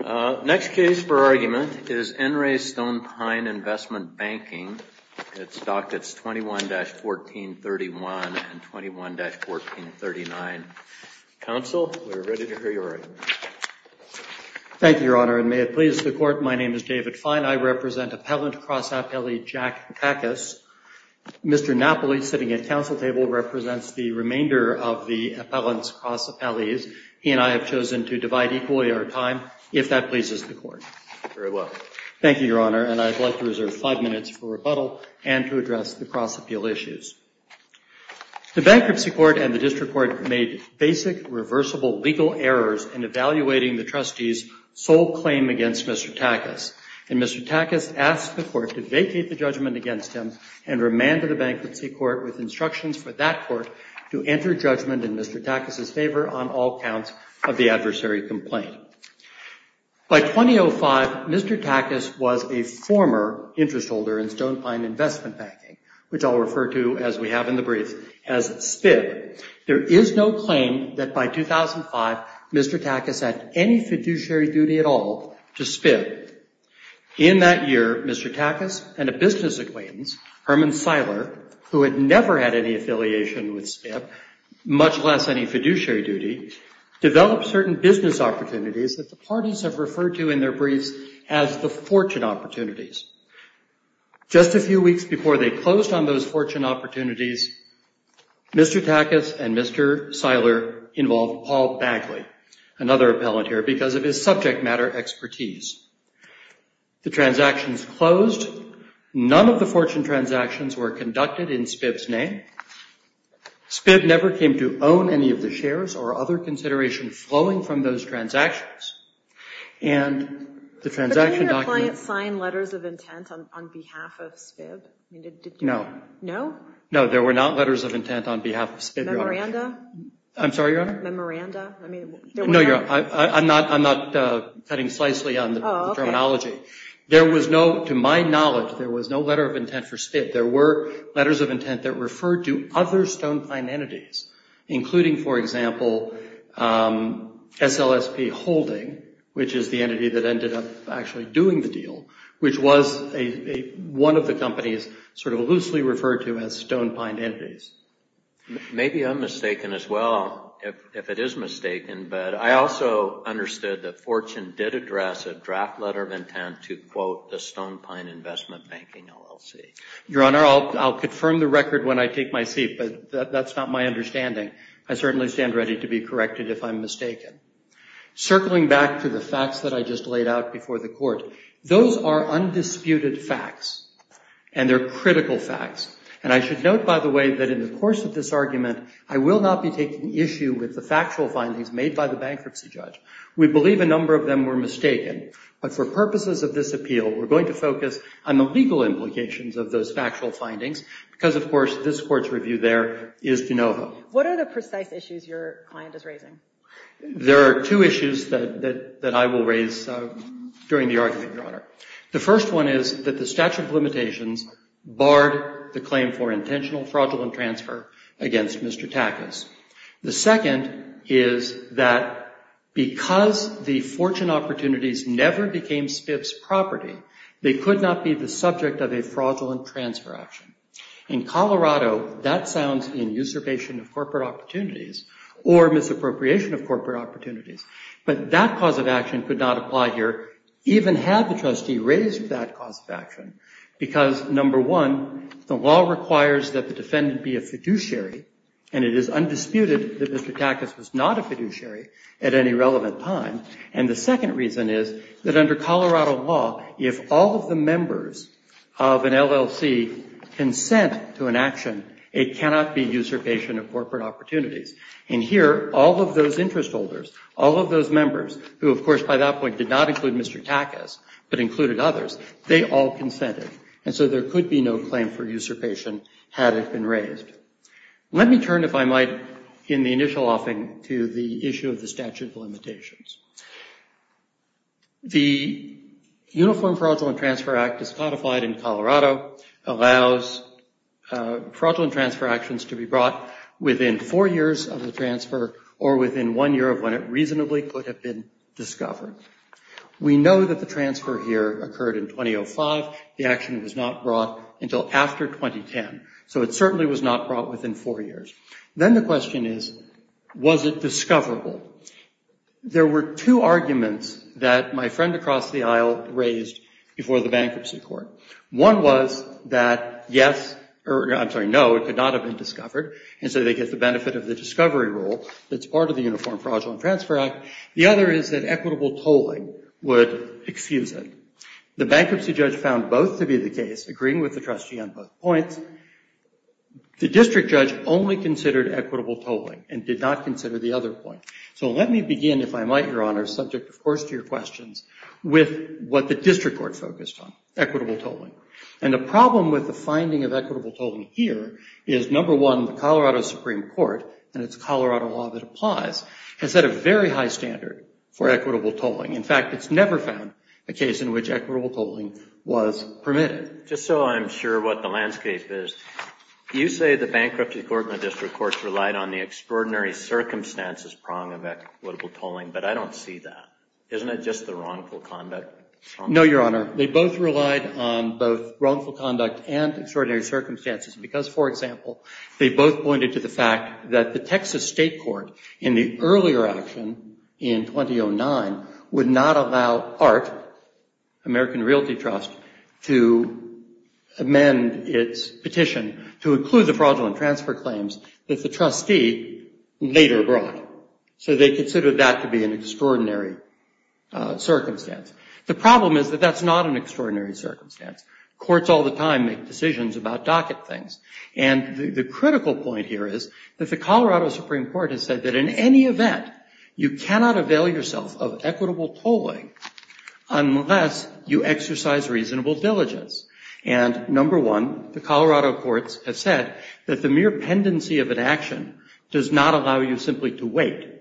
Next case for argument is N. Ray Stone Pine Investment Banking. It's dockets 21-1431 and 21-1439. Counsel, we're ready to hear your argument. Thank you, Your Honor, and may it please the Court, my name is David Fine. I represent Appellant Cross Appellee Jack Kackas. Mr. Napoli, sitting at counsel table, represents the remainder of the Appellant's Cross Appellees. He and I have chosen to divide equally our time, if that pleases the Court. Thank you, Your Honor, and I'd like to reserve five minutes for rebuttal and to address the cross-appeal issues. The Bankruptcy Court and the District Court made basic, reversible, legal errors in evaluating the trustee's sole claim against Mr. Kackas, and Mr. Kackas asked the Court to vacate the judgment against him and remanded the Bankruptcy Court with instructions for that Court to enter judgment in Mr. Kackas' favor on all counts of the adversary complaint. By 2005, Mr. Kackas was a former interest holder in Stone Pine Investment Banking, which I'll refer to, as we have in the brief, as SPIB. There is no claim that by 2005, Mr. Kackas had any fiduciary duty at all to SPIB. In that year, Mr. Kackas and a business acquaintance, Herman Seiler, who had never had any affiliation with SPIB, much less any fiduciary duty, developed certain business opportunities that the parties have referred to in their briefs as the fortune opportunities. Just a few weeks before they closed on those fortune opportunities, Mr. Kackas and Mr. Seiler involved Paul Bagley, another appellant here, because of his subject matter expertise. The transactions closed. None of the fortune transactions were conducted in SPIB's name. SPIB never came to own any of the shares or other consideration flowing from those transactions, and the transaction document... But didn't your client sign letters of intent on behalf of SPIB? No. No? No, there were not letters of intent on behalf of SPIB, Your Honor. Memoranda? I'm sorry, Your Honor? Memoranda? No, Your Honor. I'm not cutting slicely on the terminology. There was no, to my knowledge, there was no letter of intent for SPIB. There were letters of intent that referred to other stone-pine entities, including, for example, SLSP Holding, which is the entity that ended up actually doing the deal, which was a one of the companies sort of loosely referred to as stone-pine entities. Maybe I'm mistaken as well, if it is mistaken, but I also understood that fortune did address a draft letter of intent to, quote, the stone-pine investment banking LLC. Your Honor, I'll confirm the record when I take my seat, but that's not my understanding. I certainly stand ready to be corrected if I'm mistaken. Circling back to the facts that I just laid out before the court, those are of course, with this argument, I will not be taking issue with the factual findings made by the bankruptcy judge. We believe a number of them were mistaken, but for purposes of this appeal, we're going to focus on the legal implications of those factual findings because, of course, this court's review there is de novo. What are the precise issues your client is raising? There are two issues that I will raise during the argument, Your Honor. The first one is that the statute of limitations barred the claim for intentional fraudulent transfer against Mr. Takas. The second is that because the fortune opportunities never became Spiff's property, they could not be the subject of a fraudulent transfer action. In Colorado, that sounds in usurpation of corporate opportunities or misappropriation of corporate opportunities, but that cause of action could not apply here, even had the trustee raised that cause of action because, number one, the law requires that the defendant be a fiduciary, and it is undisputed that Mr. Takas was not a fiduciary at any relevant time. And the second reason is that under Colorado law, if all of the members of an LLC consent to an action, it cannot be usurpation of corporate opportunities. And here, all of those interest holders, all of those members who, of course, by that point did not include Mr. Takas, but included others, they all consented, and so there could be no claim for usurpation had it been raised. Let me turn, if I might, in the initial offing to the issue of the statute of limitations. The Uniform Fraudulent Transfer Act, as codified in Colorado, allows fraudulent transfer actions to be brought within four years of the transfer or within one year of when it reasonably could have been discovered. We know that the transfer here occurred in 2005. The action was not brought until after 2010, so it certainly was not brought within four years. Then the question is, was it discoverable? There were two arguments that my friend across the aisle raised before the bankruptcy court. One was that, yes, or I'm sorry, no, it could not have been discovered, and so they get the benefit of the discovery rule that's part of the Uniform Fraudulent Transfer Act. The other is that equitable tolling would excuse it. The bankruptcy judge found both to be the case, agreeing with the trustee on both points. The district judge only considered equitable tolling and did not consider the other point. So let me begin, if I might, Your Honor, subject, of course, to your questions, with what the district court focused on, equitable tolling. And the problem with the finding of equitable tolling here is, number one, the Colorado Supreme Court, and it's Colorado law that applies, has set a very high standard for equitable tolling. In fact, it's never found a case in which equitable tolling was permitted. Just so I'm sure what the landscape is, you say the bankruptcy court and the district courts relied on the extraordinary circumstances prong of equitable tolling, but I don't see that. Isn't it just the wrongful conduct? No, Your Honor. They both relied on both wrongful conduct and extraordinary circumstances, because, for example, they both pointed to the fact that the Texas State Court, in the earlier action in 2009, would not allow ART, American Realty Trust, to amend its petition to include the fraudulent transfer claims that the trustee later brought. So they considered that to be an extraordinary circumstance. The problem is that that's not an extraordinary circumstance. Courts all the time make decisions about docket things, and the critical point here is that the Colorado Supreme Court has said that in any event, you cannot avail yourself of equitable tolling unless you exercise reasonable diligence. And, number one, the Colorado courts have said that the mere pendency of an action does not allow you simply to wait.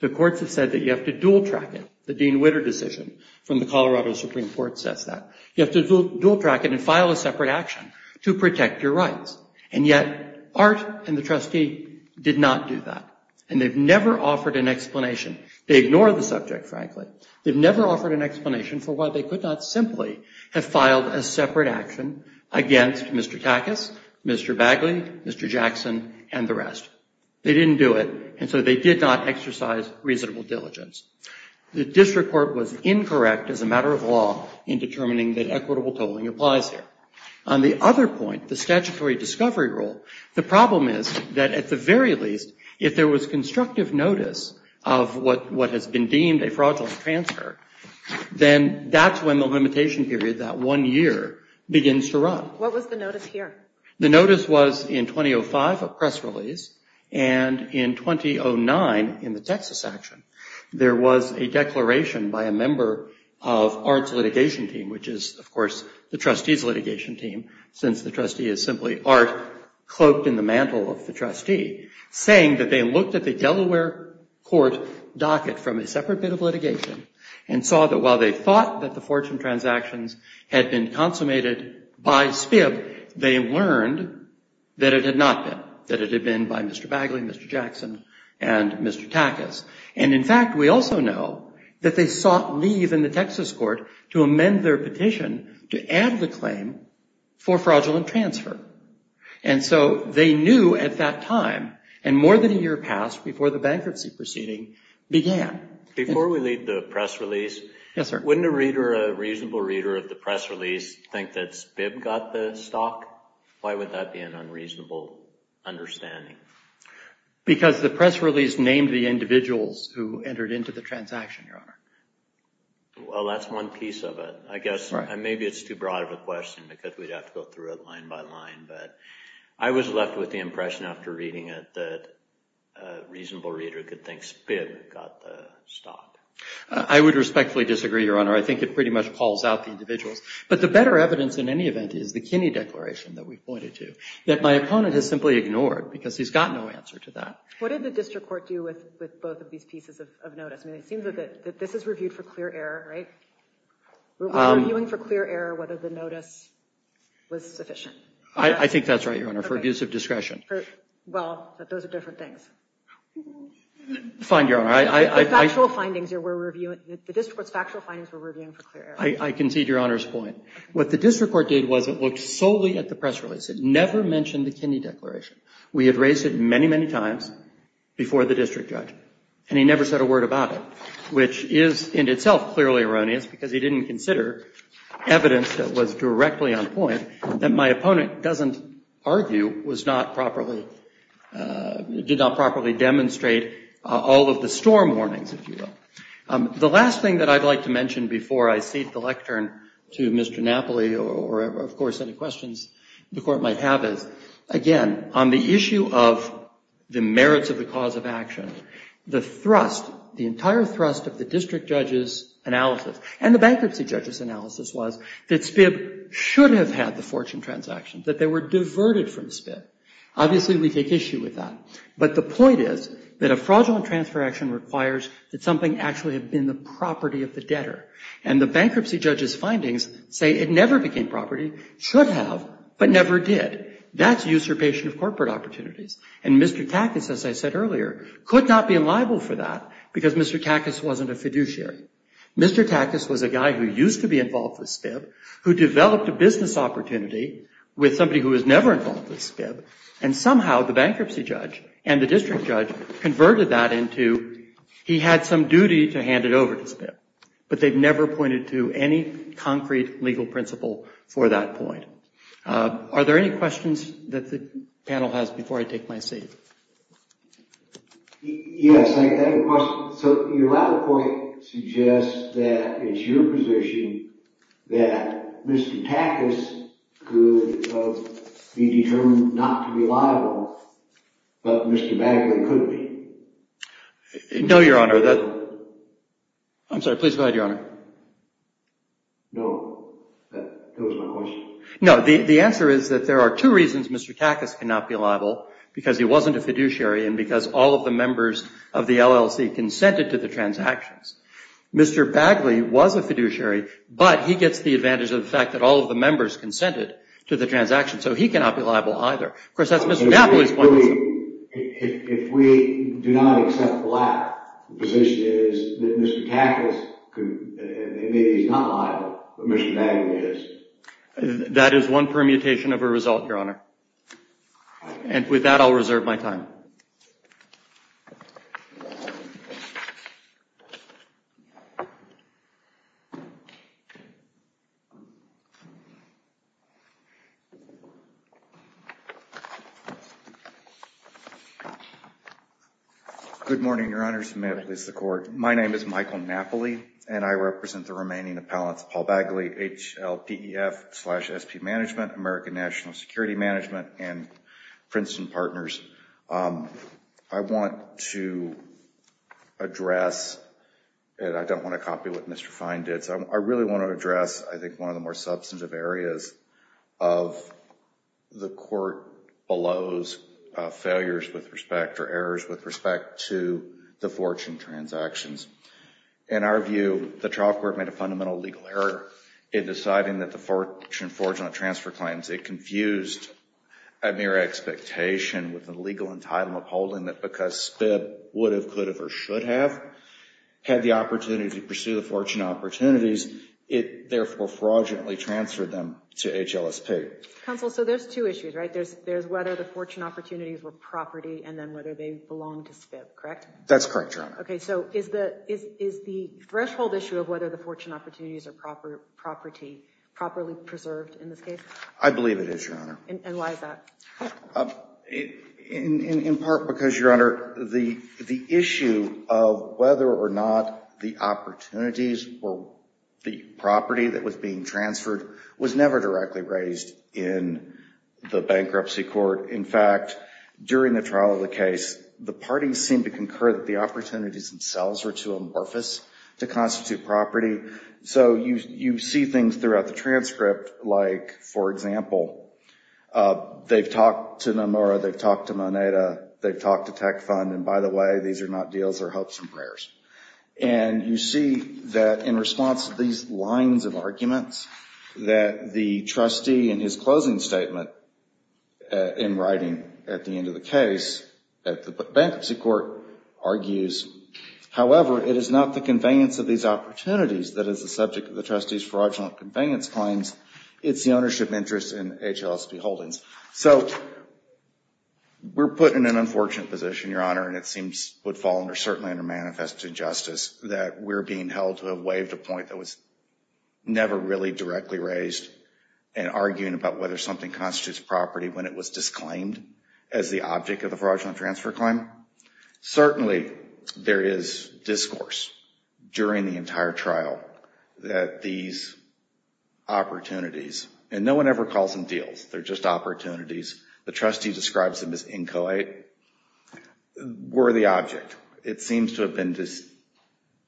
The courts have said that you have to dual track it. The Dean Witter decision from the Colorado Supreme Court says that. You have to dual track it and file a separate action to protect your rights. And yet, ART and the trustee did not do that, and they've never offered an explanation. They ignore the subject, frankly. They've never offered an explanation for why they could not simply have filed a separate action against Mr. Takas, Mr. Bagley, Mr. Jackson, and the rest. They didn't do it, and so they did not exercise reasonable diligence. The district court was incorrect as a matter of law in determining that equitable tolling applies here. On the other point, the statutory discovery rule, the problem is that at the very least, if there was constructive notice of what has been deemed a fraudulent transfer, then that's when the limitation period, that one year, begins to run. What was the notice here? The notice was in 2005, a press release, and in 2009, in the Texas action, there was a declaration by a member of ART's litigation team, which is, of course, the trustee's litigation team, since the trustee is simply ART, cloaked in the mantle of the trustee, saying that they looked at the Delaware Court docket from a separate bit of litigation and saw that while they thought that the fortune transactions had been consummated by SPIB, they learned that it had not been, that it had been by Mr. Bagley, Mr. Jackson, and Mr. Takas. And in fact, we also know that they sought leave in the Texas court to amend their petition to add the claim for fraudulent transfer. And so they knew at that time, and more than a year passed before the bankruptcy proceeding began. Before we leave the press release, wouldn't a reader, a reasonable reader of the press release, think that SPIB got the stock? Why would that be an unreasonable understanding? Because the press release named the individuals who entered into the transaction, Your Honor. Well, that's one piece of it. I guess maybe it's too broad of a question because we'd have to go through it line by line, but I was left with the impression after reading it that a reasonable reader could think SPIB got the stock. I would respectfully disagree, Your Honor. I think it pretty much calls out the individuals. But the better evidence in any event is the Kinney Declaration that we pointed to, that my opponent has simply ignored because he's got no answer to that. What did the district court do with both of these pieces of notice? It seems that this is reviewed for clear error, right? Reviewing for clear error whether the notice was sufficient. I think that's right, Your Honor, for abuse of discretion. Well, those are different things. Fine, Your Honor. The district court's factual findings were reviewed for clear error. I concede Your Honor's point. What the district court did was it looked solely at the press release. It never mentioned the Kinney Declaration. We had raised it many, many times before the district judge, and he never said a word about it, which is in itself clearly erroneous because he didn't consider evidence that was directly on point that my opponent doesn't argue was not properly, did not properly demonstrate all of the storm warnings, if you will. The last thing that I'd like to mention before I cede the lectern to Mr. Napoli, or of course any questions the court might have is, again, on the issue of the merits of the cause of action, the thrust, the entire thrust of the district judge's analysis, and the bankruptcy judge's analysis was that SPIB should have had the fortune transaction, that they were diverted from SPIB. Obviously, we take issue with that, but the point is that a fraudulent transfer action requires that something actually have been the property of the debtor, and the bankruptcy judge's findings say it never became property, should have, but never did. That's usurpation of corporate opportunities. And Mr. Takas, as I said earlier, could not be liable for that because Mr. Takas wasn't a fiduciary. Mr. Takas was a guy who used to be involved with SPIB, who developed a business opportunity with somebody who was never involved with SPIB, and somehow the bankruptcy judge and the district judge converted that into he had some duty to hand it over to SPIB, but they've never pointed to any concrete legal principle for that point. Are there any questions that the panel has before I take my seat? Yes, I have a question. So your latter point suggests that it's your position that Mr. Takas could be determined not to be liable, but Mr. Bagley could be. No, Your Honor. I'm sorry, please go ahead, Your Honor. No, that was my question. No, the answer is that there are two reasons Mr. Takas cannot be liable, because he wasn't a fiduciary and because all of the members of the LLC consented to the transactions. Mr. Bagley was a fiduciary, but he gets the advantage of the fact that all of the members consented to the transaction, so he cannot be liable either. If we do not accept the latter, the position is that Mr. Takas is not liable, but Mr. Bagley is. That is one permutation of a result, Your Honor, and with that I'll reserve my time. Good morning, Your Honors. May it please the Court. My name is Michael Napoli, and I represent the remaining appellants, Paul Bagley, HLDEF SP Management, American National Security Management, and Princeton Partners. I want to address, and I don't want to copy what Mr. Fine did, so I really want to address, I think, one of the more substantive areas of the Court Below's failures with respect or errors with respect to the fortune transactions. In our view, the trial court made a fundamental legal error in deciding that the fortune fraudulent transfer claims, it confused a mere expectation with the legal entitlement holding that because SPIB would have, could have, or should have had the opportunity to pursue the fortune opportunities, it therefore fraudulently transferred them to HLSP. Counsel, so there's two issues, right? There's there's whether the fortune opportunities were property and then whether they belong to SPIB, correct? That's correct, Your Honor. Okay, so is the threshold issue of whether the fortune opportunities are property properly preserved in this case? I believe it is, Your Honor. And why is that? In part because, Your Honor, the issue of whether or not the opportunities or the property that was being transferred was never directly raised in the bankruptcy court. In fact, during the trial of the case, the parties seemed to concur that the opportunities themselves were too amorphous to constitute property. So you see things throughout the transcript like, for example, they've talked to Nomura, they've talked to Moneda, they've talked to Tech Fund, and by the way, these are not deals, they're hopes and prayers. And you see that in response to these lines of arguments that the trustee in his closing statement in writing at the end of the case at the bankruptcy court argues, however, it is not the conveyance of these opportunities that is the subject of the trustee's fraudulent conveyance claims. It's the ownership interest in HLSP holdings. So we're put in an unfortunate position, Your Honor, and it seems would fall under, certainly under manifest injustice, that we're being held to have waived a point that was indirectly raised and arguing about whether something constitutes property when it was disclaimed as the object of the fraudulent transfer claim. Certainly, there is discourse during the entire trial that these opportunities, and no one ever calls them deals, they're just opportunities, the trustee describes them as inchoate, were the object. It seems to have been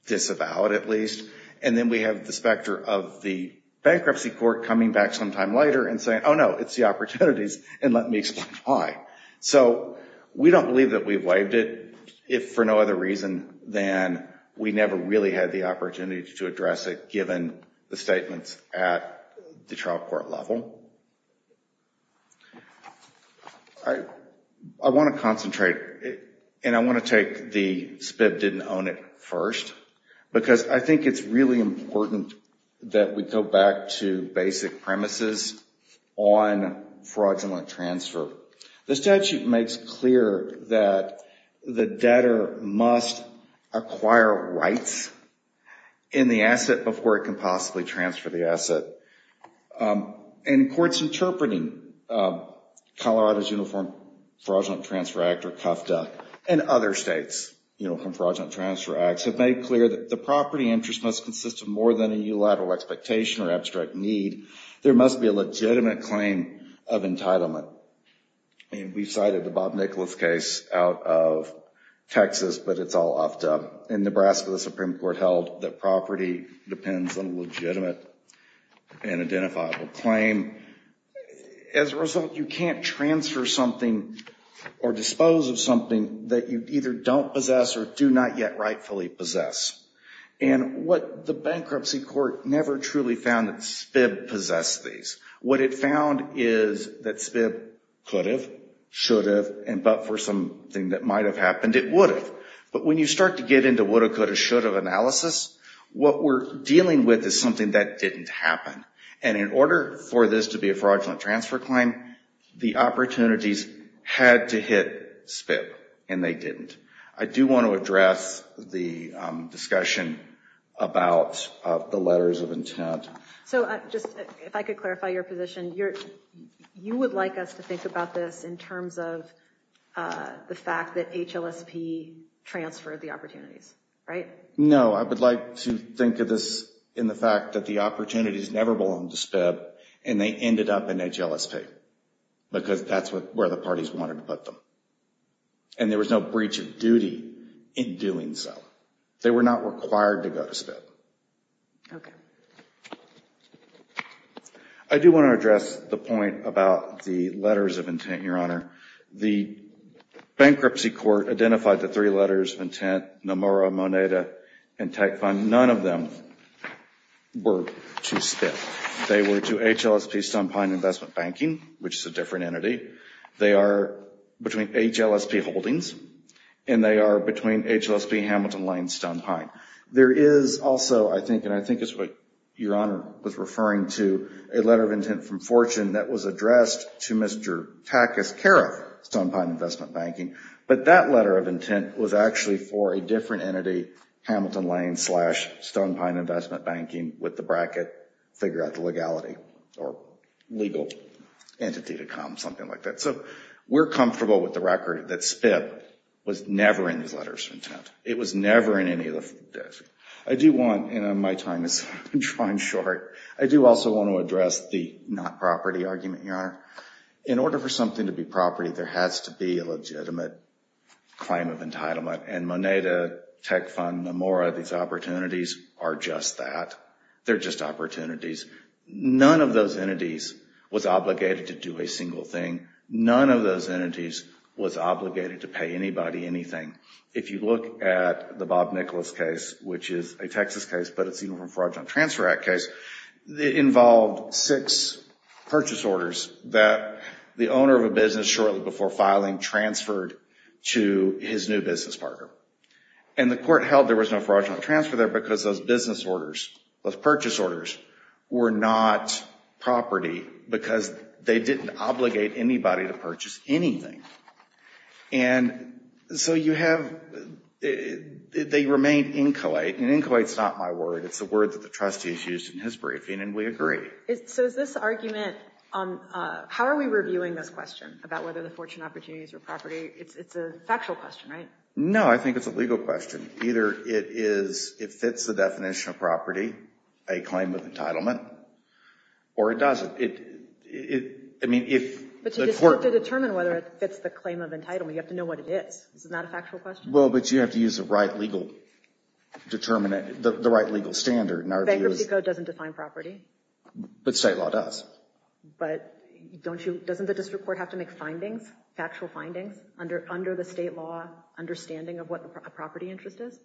disavowed, at least. And then we have the specter of the bankruptcy court coming back sometime later and saying, oh, no, it's the opportunities, and let me explain why. So we don't believe that we've waived it, if for no other reason than we never really had the opportunity to address it given the statements at the trial court level. I want to concentrate, and I want to take the SPIB didn't own it first, because I think it's really important that we go back to basic premises on fraudulent transfer. The statute makes clear that the debtor must acquire rights in the asset before it can possibly transfer the asset. And courts interpreting Colorado's Uniform Fraudulent Transfer Act, or CUFDA, and other states, you know, from Fraudulent Transfer Acts, have made clear that the property interest must consist of more than a unilateral expectation or abstract need. There must be a legitimate claim of entitlement. And we cited the Bob Nicholas case out of Texas, but it's all off dub. In Nebraska, the Supreme Court held that property depends on legitimate and identifiable claim. As a result, you can't transfer something or dispose of something that you either don't possess or do not yet rightfully possess. And what the bankruptcy court never truly found that SPIB possessed these. What it found is that SPIB could have, should have, and but for something that might have happened, it would have. But when you start to get into woulda, coulda, shoulda analysis, what we're dealing with is something that didn't happen. And in order for this to be a fraudulent transfer claim, the opportunities had to hit SPIB, and they didn't. I do want to address the discussion about the letters of intent. So, just if I could clarify your position, you're, you would like us to think about this in terms of the fact that HLSP transferred the opportunities, right? No, I would like to think of this in the fact that the opportunities never belonged to SPIB, and they ended up in HLSP. Because that's what, where the parties wanted to put them. And there was no breach of duty in doing so. They were not required to go to SPIB. Okay. I do want to address the point about the letters of intent, Your Honor. The bankruptcy court identified the three letters of intent, Nomura, Moneda, and Tech Fund. None of them were to SPIB. They were to HLSP Stonepine Investment Banking, which is a different entity. They are between HLSP Holdings, and they are between HLSP Hamilton Lane Stonepine. There is also, I think, and I think it's what Your Honor was referring to, a letter of intent from Fortune that was addressed to Mr. Takas-Kareth, Stonepine Investment Banking. But that letter of intent was actually for a different entity, Hamilton Lane Stonepine Investment Banking, with the bracket, figure out the legality, or legal entity to come, something like that. So we're comfortable with the record that SPIB was never in these letters of intent. It was never in any of those. I do want, and my time is running short, I do also want to address the not property argument, Your Honor. In order for something to be property, there has to be a legitimate claim of entitlement, and Moneda, Tech Fund, Nomura, these opportunities are just that. They're just opportunities. None of those entities was obligated to do a single thing. None of those entities was obligated to pay anybody anything. If you look at the Bob Nicholas case, which is a Texas case, but it's even from Fraudulent Transfer Act case, it involved six purchase orders that the owner of a business shortly before filing transferred to his new business partner. And the court held there was no fraudulent transfer there because those business orders, those purchase orders, were not property because they didn't obligate anybody to purchase anything. And so you have, they remain inchoate, and inchoate is not my word. It's the word that the trustee has used in his briefing, and we agree. So is this argument, how are we reviewing this question about whether the fortune opportunities are property? It's a factual question, right? No, I think it's a legal question. Either it is, it fits the definition of property, a claim of entitlement, or it doesn't. I mean, if the court... But you just have to determine whether it fits the claim of entitlement. You have to know what it is. Well, but you have to use the right legal determinant, the right legal standard. Bankruptcy code doesn't define property. But state law does. But don't you, doesn't the district court have to make findings, factual findings, under the state law understanding of what the property interest is?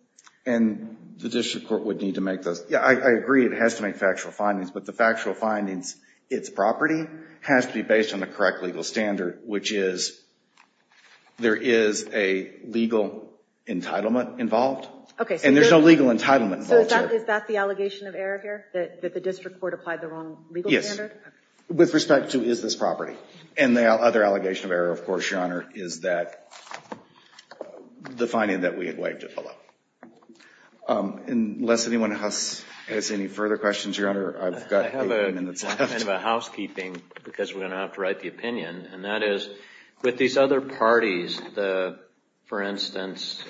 And the district court would need to make those. Yeah, I agree. It has to make factual findings, but the factual findings, its property, has to be based on the correct legal standard, which is there is a legal entitlement involved. Okay. And there's no legal entitlement. So is that the allegation of error here, that the district court applied the wrong legal standard? Yes. With respect to, is this property? And the other allegation of error, of course, Your Honor, is that the finding that we had waived it below. Unless anyone has any further questions, Your Honor, I've got eight minutes left. Kind of a housekeeping, because we're going to have to write the opinion. And that is, with these other parties, the, for instance,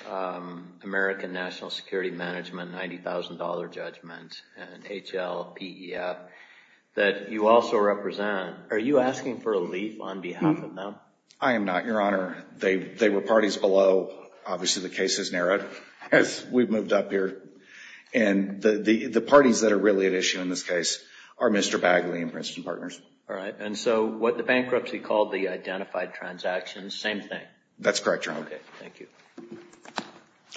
American National Security Management, $90,000 Judgment, and HLPEF, that you also represent, are you asking for a leaf on behalf of them? I am not, Your Honor. They were parties below, obviously the case is narrowed, as we've moved up here. And the parties that are really at issue in this case are Mr. Bagley and Princeton Partners. All right. And so what the bankruptcy called the identified transactions, same thing? That's correct, Your Honor. Okay. Thank you.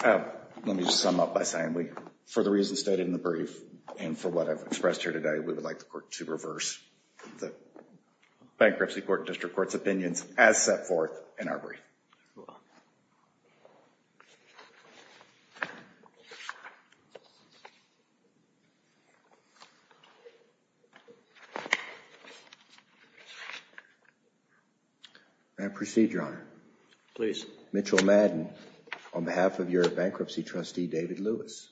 Let me just sum up by saying we, for the reasons stated in the brief, and for what I've expressed here today, we would like the court to reverse the Bankruptcy Court and District Court's opinions as set forth in our brief. May I proceed, Your Honor? Please. Mitchell Madden, on behalf of your bankruptcy trustee, David Lewis.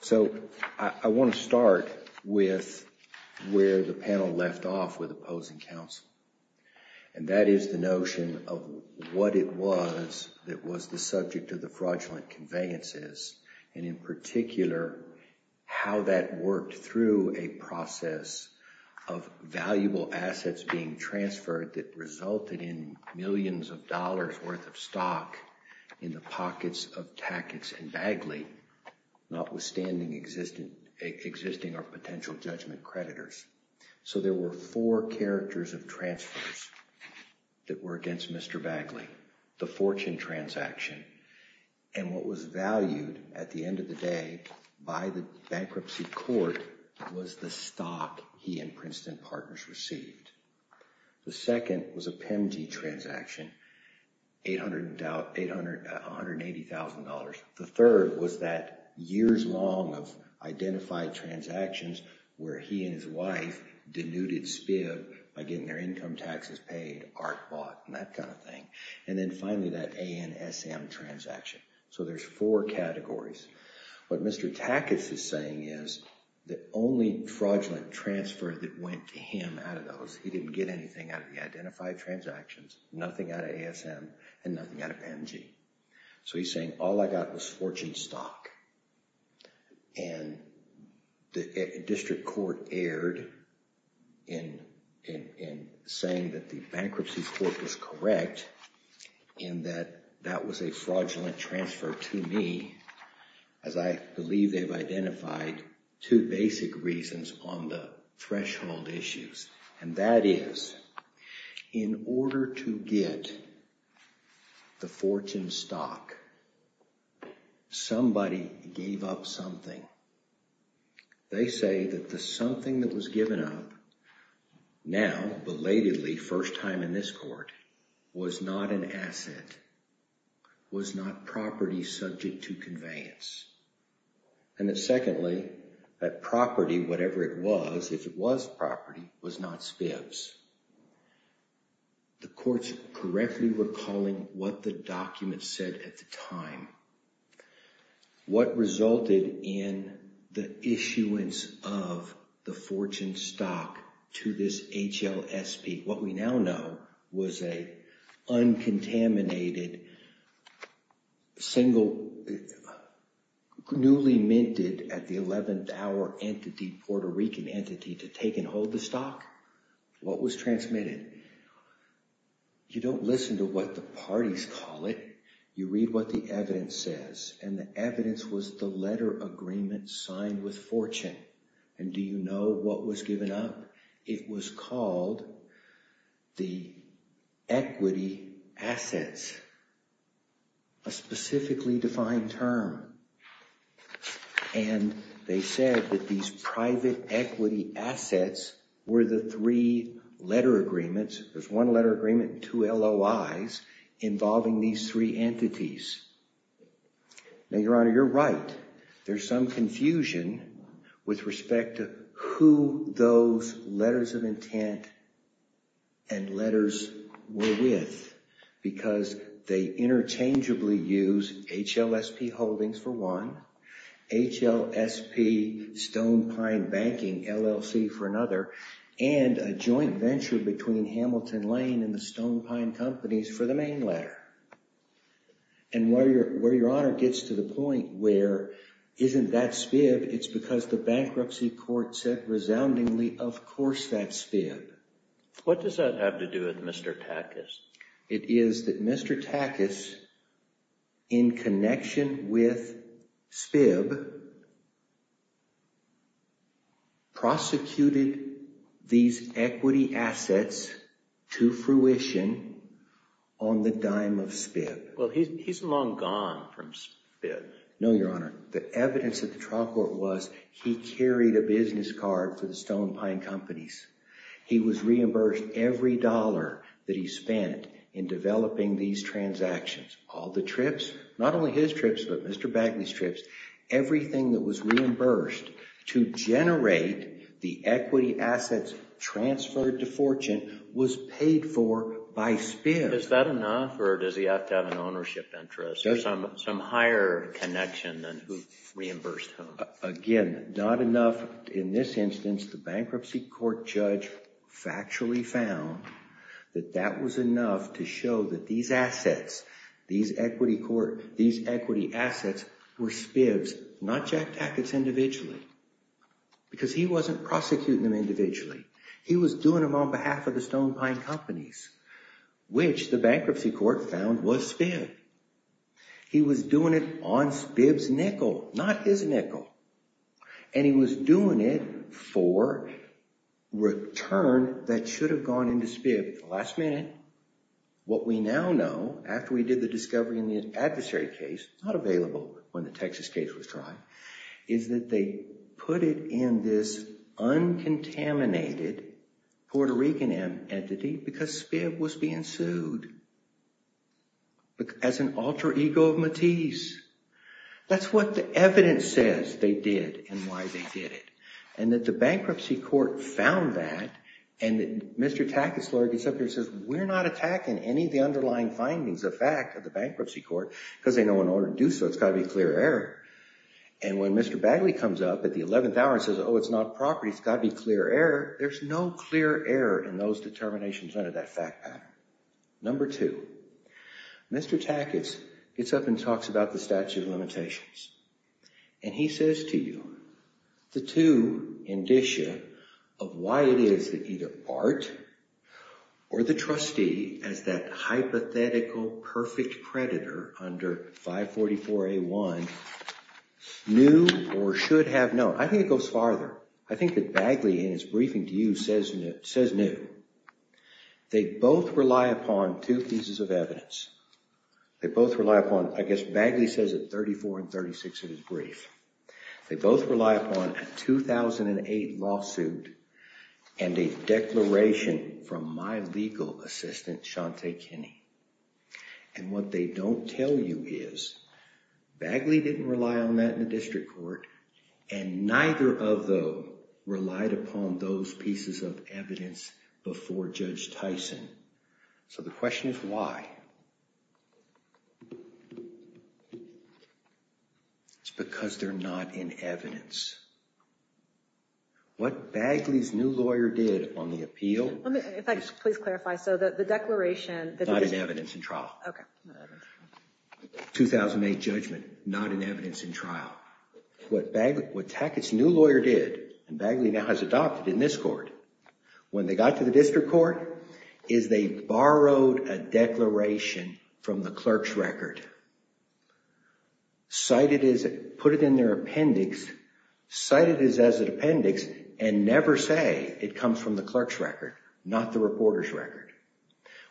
So, I want to start with where the panel left off with opposing counsel. And that is the notion of what it was that was the subject of the fraudulent conveyances, and in particular, how that worked through a process of valuable assets being transferred that resulted in millions of dollars worth of stock in the pockets of Tackett's and Bagley, notwithstanding existing or potential judgment creditors. So there were four characters of transfers that were against Mr. Bagley. The fortune transaction, and what was valued at the end of the day by the Bankruptcy Court, was the stock he and Princeton partners received. The second was a PEMG transaction, $180,000. The third was that years-long of identified transactions where he and his wife denuded SPIB by getting their income taxes paid, ARC bought, and that kind of thing. And then finally that ANSM transaction. So there's four categories. What Mr. Tackett's is saying is the only fraudulent transfer that went to him out of those, he didn't get anything out of the identified transactions, nothing out of ASM, and nothing out of PEMG. So he's saying all I got was fortune stock. And the District Court erred in saying that the Bankruptcy Court was correct in that that was a fraudulent transfer to me, as I believe they've identified two basic reasons on the threshold issues. And that is, in order to get the fortune stock, somebody gave up something. They say that the something that was given up now, belatedly, first time in this court, was not an asset, was not property subject to conveyance. And that secondly, that property, whatever it was, if it was property, was not SPIBs. The courts correctly were calling what the document said at the time. What resulted in the issuance of the fortune stock to this HLSP, what we now know was a uncontaminated, single, newly minted at the 11th hour entity, Puerto Rican entity, to take and hold the stock. What was transmitted? You don't listen to what the parties call it. You read what the evidence says. And the evidence was the letter agreement signed with fortune. And do you know what was given up? It was called the equity assets. A specifically defined term. And they said that these private equity assets were the three letter agreements. There's one letter agreement, two LOIs, involving these three entities. Now, Your Honor, you're right. There's some confusion with respect to who those letters of intent and letters were with, because they interchangeably use HLSP Holdings for one, HLSP Stone Pine Banking LLC for another, and a joint venture between Hamilton Lane and the Stone Pine Companies for the main letter. And where Your Honor gets to the point where isn't that SPIB, it's because the bankruptcy court said resoundingly, of course that's SPIB. What does that have to do with Mr. Takas? It is that Mr. Takas, in connection with SPIB, prosecuted these equity assets to fruition on the dime of SPIB. Well, he's long gone from SPIB. No, Your Honor, the evidence at the trial court was he carried a business card for the Stone Pine Companies. He was reimbursed every dollar that he spent in developing these transactions. All the trips, not only his trips, but Mr. Bagley's trips, everything that was reimbursed to generate the equity assets transferred to fortune, was paid for by SPIB. Is that enough, or does he have to have an ownership interest, or some higher connection than who reimbursed whom? Again, not enough. In this instance, the bankruptcy court judge factually found that that was enough to show that these assets, these equity assets, were SPIBs, not Jack Takas individually. Because he wasn't prosecuting them individually. He was doing them on behalf of the Stone Pine Companies, which the bankruptcy court found was SPIB. He was doing it on SPIB's nickel, not his nickel, and he was doing it for return that should have gone into SPIB. Last minute, what we now know, after we did the discovery in the adversary case, not available when the Texas case was tried, is that they put it in this uncontaminated Puerto Rican entity because SPIB was being sued, as an alter ego of Matisse. That's what the evidence says they did, and why they did it. And that the bankruptcy court found that, and Mr. Takas' lawyer gets up here and says, we're not attacking any of the underlying findings of fact of the bankruptcy court, because they know in order to do so, it's got to be a clear error. And when Mr. Bagley comes up at the 11th hour and says, oh, it's not property. It's got to be clear error. There's no clear error in those determinations under that fact pattern. Number two, Mr. Takas gets up and talks about the statute of limitations, and he says to you, the two indicia of why it is that either Art, or the trustee, as that hypothetical perfect predator under 544A1 knew or should have known. I think it goes farther. I think that Bagley, in his briefing to you, says new. They both rely upon two pieces of evidence. They both rely upon, I guess Bagley says at 34 and 36 of his brief. They both rely upon a 2008 lawsuit and a declaration from my legal assistant, Shante Kinney. And what they don't tell you is Bagley didn't rely on that in the district court, and neither of them relied upon those pieces of evidence before Judge Tyson. So the question is why? It's because they're not in evidence. What Bagley's new lawyer did on the appeal. If I could please clarify, so that the declaration. Not in evidence in trial. Okay. 2008 judgment, not in evidence in trial. What Tackett's new lawyer did, and Bagley now has adopted in this court, when they got to the district court, is they borrowed a declaration from the clerk's record. Cited as, put it in their appendix, cited as an appendix, and never say it comes from the clerk's record, not the reporter's record.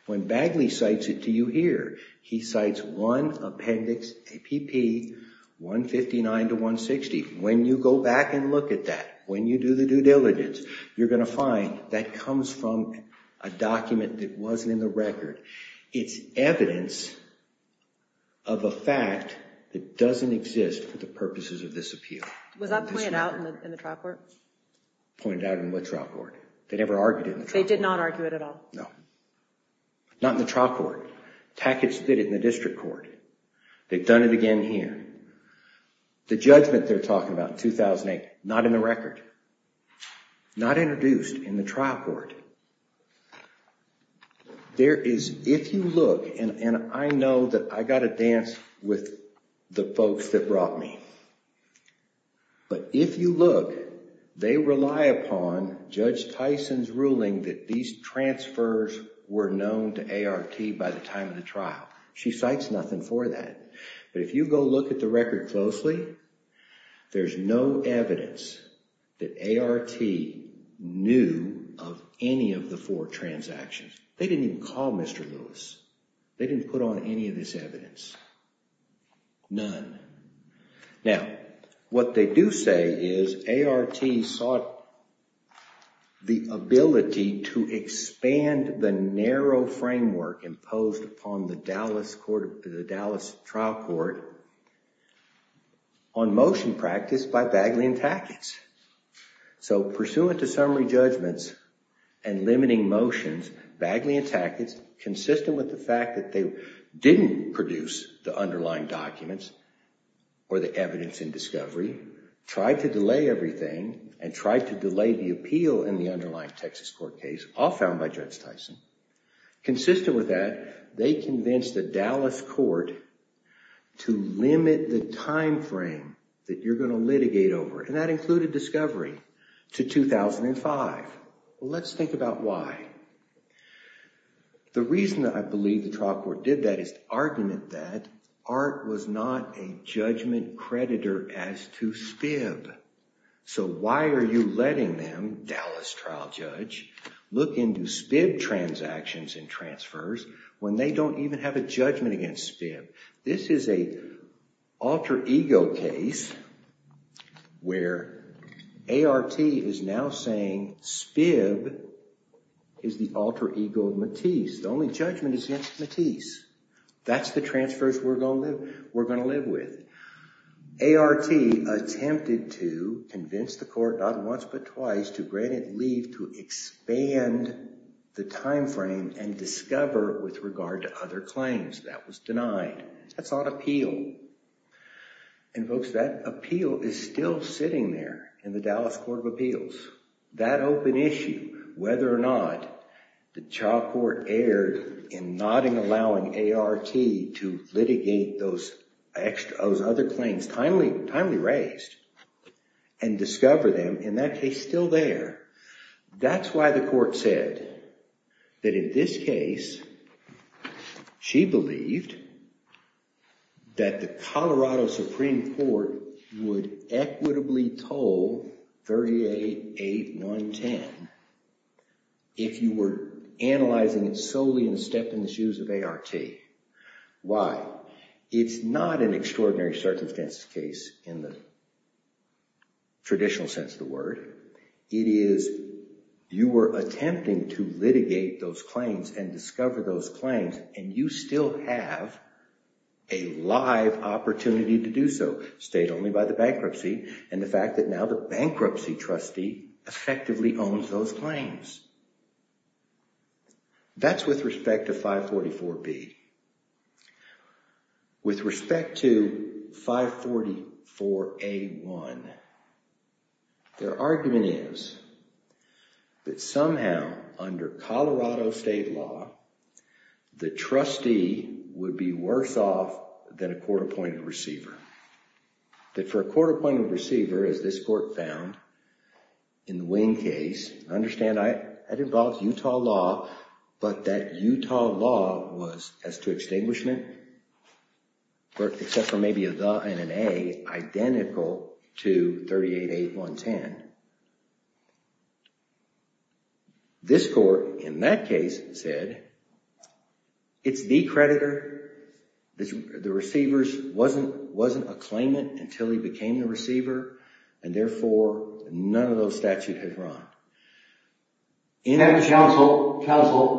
When Bagley cites it to you here, he cites one appendix, APP 159 to 160. When you go back and look at that, when you do the due diligence, you're going to find that comes from a document that wasn't in the record. It's evidence of a fact that doesn't exist for the purposes of this appeal. Was that pointed out in the trial court? Pointed out in what trial court? They never argued it. They did not argue it at all. No. Not in the trial court. Tackett's did it in the district court. They've done it again here. The judgment they're talking about in 2008, not in the record. Not introduced in the trial court. There is, if you look, and I know that I got a dance with the folks that brought me, but if you look, they rely upon Judge Tyson's ruling that these transfers were known to ART by the time of the trial. She cites nothing for that, but if you go look at the record closely, there's no evidence that ART knew of any of the four transactions. They didn't even call Mr. Lewis. They didn't put on any of this evidence. None. Now, what they do say is ART sought the ability to expand the narrow framework imposed upon the Dallas Court, the Dallas Trial Court on motion practice by Bagley and Tackett's. So pursuant to summary judgments and limiting motions, Bagley and Tackett's, consistent with the fact that they didn't produce the underlying documents, or the evidence in discovery, tried to delay everything and tried to delay the appeal in the underlying Texas court case, all found by Judge Tyson. Consistent with that, they convinced the Dallas Court to limit the time frame that you're going to litigate over, and that included discovery, to 2005. Let's think about why. The reason that I believe the trial court did that is to argument that ART was not a judgment creditor as to SPIB. So why are you letting them, Dallas Trial Judge, look into SPIB transactions and transfers when they don't even have a judgment against SPIB? This is a alter-ego case where ART is now saying SPIB is the alter-ego of Matisse. The only judgment is against Matisse. That's the transfers we're going to live with. ART attempted to convince the court, not once but twice, to grant it leave to expand the time frame and discover with regard to other claims. That was denied. That's not appeal, and folks, that appeal is still sitting there in the Dallas Court of Appeals. That open issue, whether or not the trial court erred in not allowing ART to litigate those extra, those other claims, timely raised, and discover them, in that case, still there. That's why the court said that in this case, she believed that the Colorado Supreme Court would equitably toll 388-110 if you were analyzing it solely in the stepping-shoes of ART. Why? It's not an extraordinary circumstance case in the traditional sense of the word. It is you were attempting to litigate those claims and discover those claims, and you still have a bankruptcy trustee effectively owns those claims. That's with respect to 544B. With respect to 544A1, their argument is that somehow under Colorado state law, the trustee would be worse off than a court-appointed receiver. That for a court-appointed receiver, as this court found in the Wing case, I understand that involves Utah law, but that Utah law was as to extinguishment, except for maybe a the and an A, identical to 388-110. This court, in that case, said it's the creditor, the receivers wasn't a claimant until he became the receiver, and therefore none of those statutes had run. In that counsel,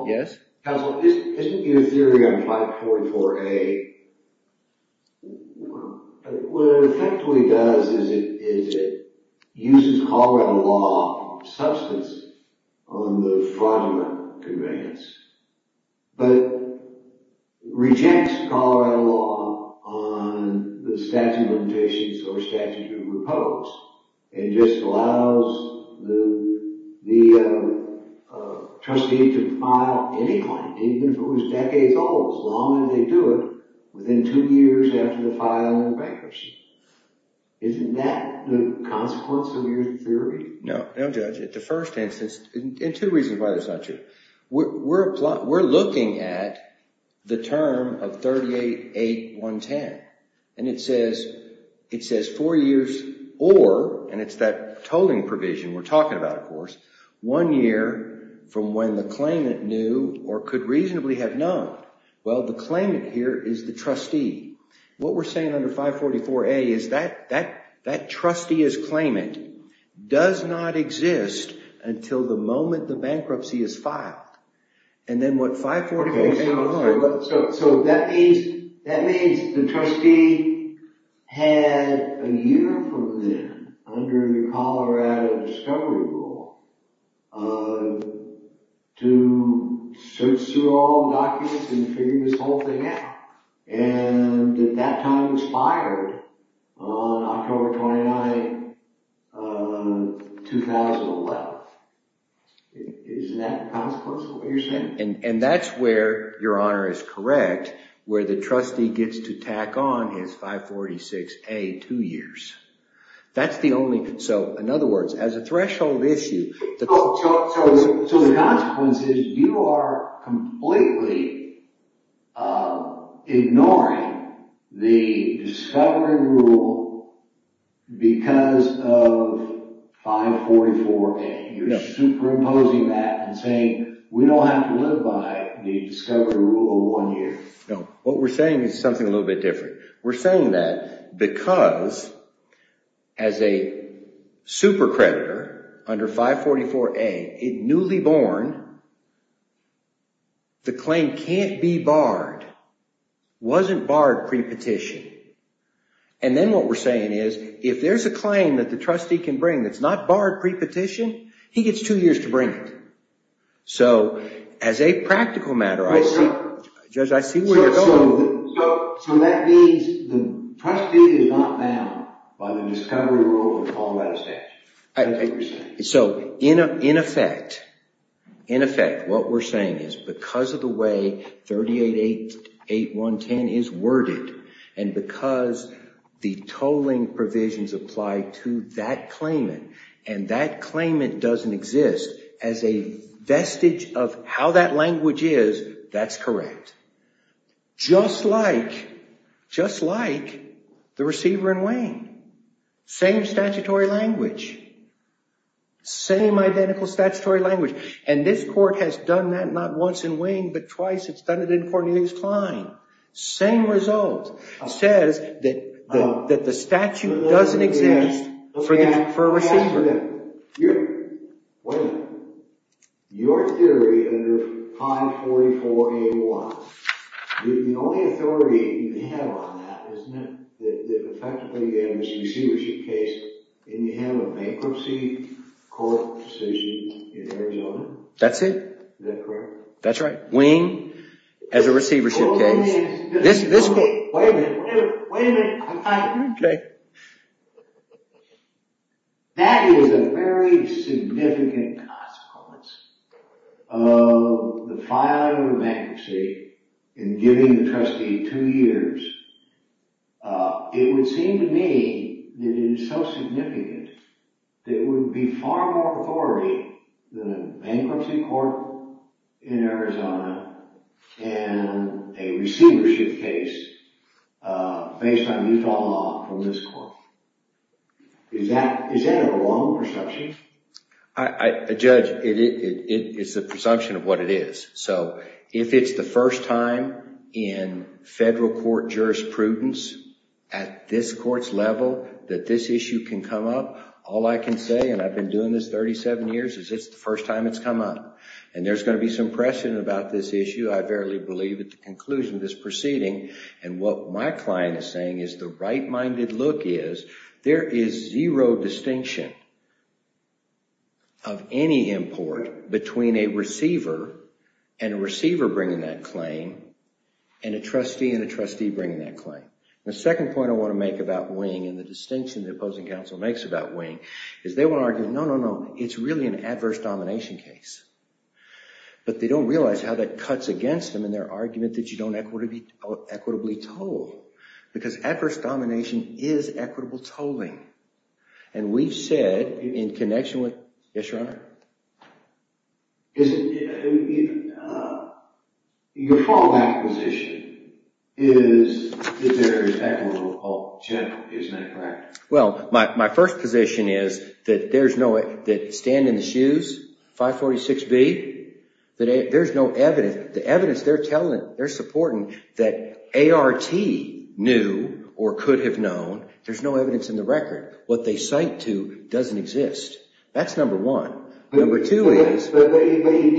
isn't your theory on 544A, what it effectively does is it uses Colorado law substance on the fraudulent conveyance, but rejects Colorado law on the statute of limitations or statute of repose. It just allows the the trustee to file any claim, even if it was decades old, as long as they do it, within two years after the filing of the bankruptcy. Isn't that the consequence of your theory? No, no judge. At the first instance, and two reasons why there's not two, we're looking at the term of 388-110, and it says, it says four years or, and it's that tolling provision we're talking about, of course, one year from when the claimant knew or could reasonably have known. Well, the claimant here is the trustee. What we're saying under 544A is that that trustee as claimant does not exist until the moment the bankruptcy is filed, and then what 544A So that means, that means the trustee had a year from then, under the Colorado Discovery Rule, to search through all the documents and figure this whole thing out, and at that time it was fired on October 29, 2011. Isn't that the consequence of what you're saying? And, and that's where your honor is correct, where the trustee gets to tack on his 546A, two years. That's the only, so in other words, as a threshold issue... So, so, so the consequence is you are completely ignoring the Discovery Rule because of 544A. You're superimposing that and saying, we don't have to live by the Discovery Rule over one year. No, what we're saying is something a little bit different. We're saying that because, as a super creditor under 544A, it newly born, the claim can't be barred, wasn't barred pre-petition, and then what we're saying is, if there's a claim that the trustee can bring that's not barred pre-petition, he gets two years to bring it. So, as a practical matter, I see, Judge, I see where you're going with it. So, so, so that means the trustee is not bound by the Discovery Rule or Colorado Statute, is that what you're saying? So, in a, in effect, in effect, what we're saying is because of the way 38.8.8.1.10 is worded and because the tolling provisions apply to that claimant and that claimant doesn't exist as a vestige of how that language is, that's correct. Just like, just like, the receiver in Wayne. Same statutory language. Same identical statutory language. And this court has done that not once in Wayne, but twice. It's done it in Courtney Hughes Cline. Same result says that, that the statute doesn't exist for a receiver. Wait a minute. Your theory under 544A.1, the only authority you have on that is that effectively you have this receivership case and you have a bankruptcy court decision in Arizona. That's it. That's right. Wayne has a receivership case. Wait a minute. Wait a minute. Okay. That is a very significant consequence of the filing of bankruptcy and giving the trustee two years. It would seem to me that it is so significant that it would be far more authority than a bankruptcy court in Arizona and a receivership case based on Utah law from this court. Is that a wrong perception? A judge, it is a presumption of what it is. So, if it's the first time in federal court jurisprudence at this court's level that this issue can come up, all I can say, and I've been doing this 37 years, is it's the first time it's come up. And there's going to be some pressure about this issue. I verily believe at the conclusion of this proceeding and what my client is saying is the right-minded look is there is zero distinction of any import between a receiver and a receiver bringing that claim and a trustee and a trustee bringing that claim. The second point I want to make about wing and the distinction the opposing counsel makes about wing is they want to argue, no, no, no, it's really an adverse domination case. But they don't realize how that cuts against them in their argument that you don't equitably toll because adverse domination is equitable tolling. And we've said in connection with Yes, Your Honor? Is it Your fallback position is that there is equitable tolling. General, isn't that correct? Well, my first position is that there's no stand in the shoes, 546B that there's no evidence. The evidence they're telling they're supporting that ART knew or could have known. There's no evidence in the record. What they cite to doesn't exist. That's number one. Number two is you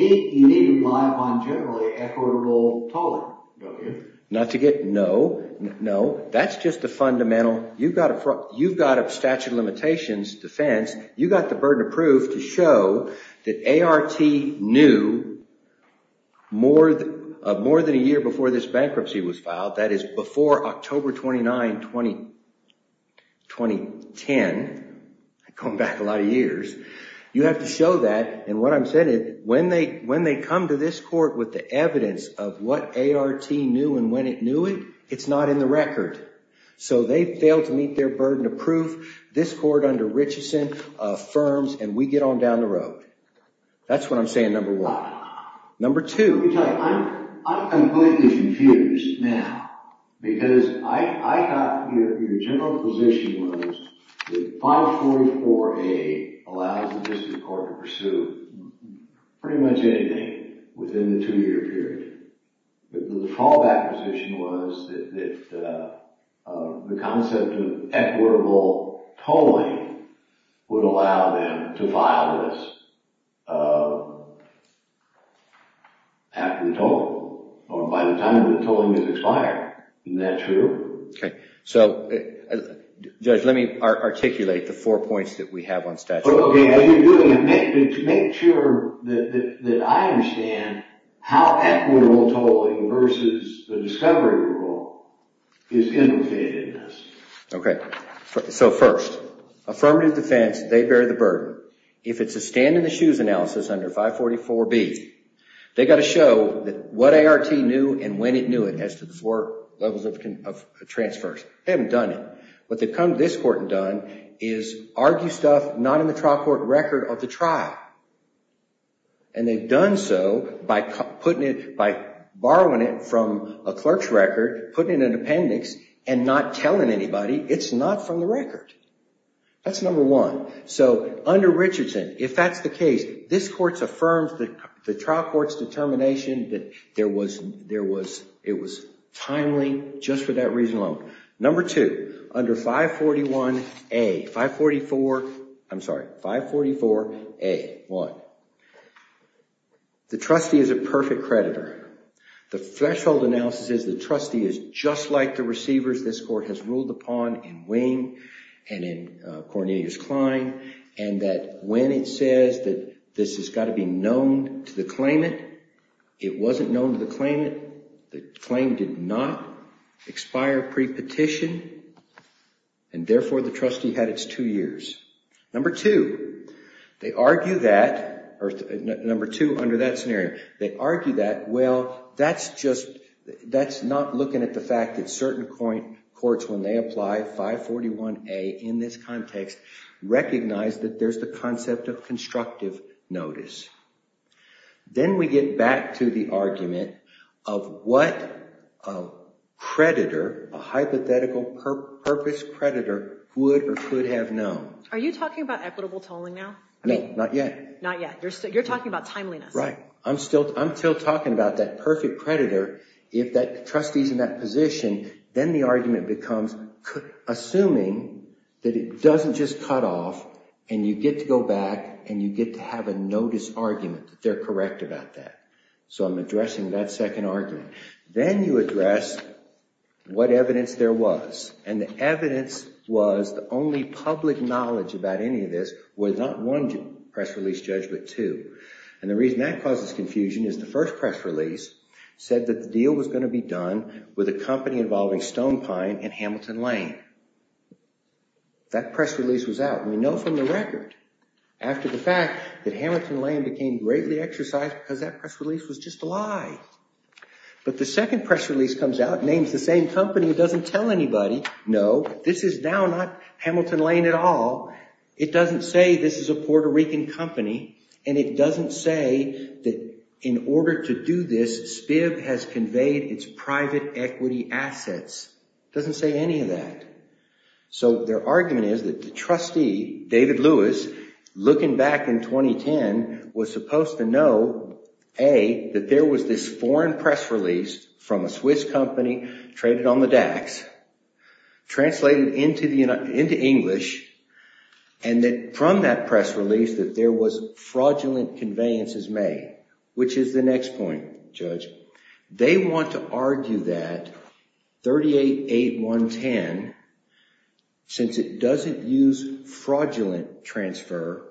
need to rely upon generally equitable tolling. Not to get, no. That's just a fundamental. You've got a statute of limitations defense. You've got the burden of proof to show that ART knew more than a year before this bankruptcy was filed. That is before October 29, 2010. Going back a lot of years. You have to show that and what I'm saying is when they come to this court with the evidence of what ART knew and when it knew it, it's not in the record. So they fail to meet their burden of proof. This court under Richeson affirms and we get on down the road. That's what I'm saying, number one. Number two Let me tell you, I'm completely confused now. Because I thought your general position was that 544A allows the district court to pursue pretty much anything within the two year period. The fallback position was that the concept of equitable tolling would allow them to file this after the tolling. Or by the time the tolling has expired. Isn't that true? Okay, so Judge, let me articulate the four points that we have on statute. To make sure that I understand how equitable tolling versus the discovery rule is interfered in this. Okay, so first affirmative defense, they bear the burden. If it's a stand in the shoes analysis under 544B they've got to show what ART knew and when it knew it as to the four levels of transfers. They haven't done it. What they've come to this court and done is argue stuff not in the trial court record of the trial. And they've done so by borrowing it from a clerk's record putting it in an appendix and not telling anybody. It's not from the record. That's number one. So under Richardson, if that's the case, this court's affirmed the trial court's determination that it was timely just for that reason alone. Number two, under 541A 544, I'm sorry 544A. What? The trustee is a perfect creditor. The threshold analysis is the trustee is just like the receivers this court has ruled upon in Wing and in Cornelius Klein and that when it says that this has got to be known to the claimant, it wasn't known to the claimant. The claim did not expire pre-petition and therefore the trustee had its two years. Number two, they argue that number two under that scenario they argue that, well, that's just, that's not looking at the fact that certain courts when they apply 541A in this context recognize that there's the concept of then we get back to the argument of what a creditor a hypothetical purpose creditor would or could have known. Are you talking about equitable tolling now? No, not yet. Not yet. You're talking about timeliness. Right. I'm still talking about that perfect creditor if that trustee's in that position, then the argument becomes assuming that it doesn't just cut off and you get to go back and you get to have a notice argument that they're correct about that. So I'm addressing that second argument. Then you address what evidence there was. And the evidence was the only public knowledge about any of this was not one press release judge but two. And the reason that causes confusion is the first press release said that the deal was going to be done with a company involving Stone Pine and Hamilton Lane. That press release was out. We know from the fact that Hamilton Lane became greatly exercised because that press release was just a lie. But the second press release comes out, names the same company that doesn't tell anybody, no, this is now not Hamilton Lane at all. It doesn't say this is a Puerto Rican company and it doesn't say that in order to do this, SPIB has conveyed its private equity assets. It doesn't say any of that. So their argument is that the trustee, David Lewis, looking back in 2010, was supposed to know, A, that there was this foreign press release from a Swiss company traded on the DAX, translated into English, and that from that press release that there was fraudulent conveyances made, which is the next point, Judge. They want to argue that 38-8-1-10, since it doesn't use fraudulent transfer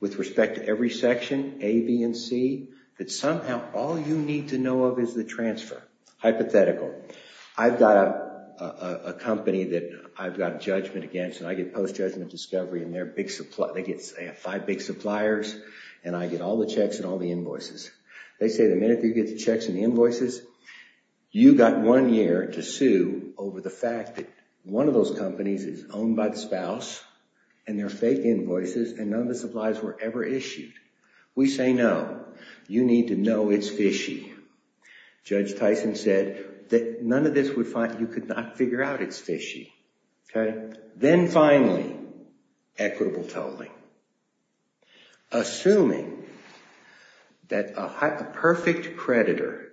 with respect to every section, A, B, and C, that somehow all you need to know of is the transfer. Hypothetical. I've got a company that I've got judgment against and I get post-judgment discovery and they're big suppliers. They have five big suppliers and I get all the checks and all the invoices. They say the minute you get the checks and the invoices, you got one year to sue over the fact that one of those companies is owned by the spouse and they're fake invoices and none of the supplies were ever issued. We say no. You need to know it's fishy. Judge Tyson said that none of this would find, you could not figure out it's fishy. Then finally, equitable tolling. Assuming that a perfect creditor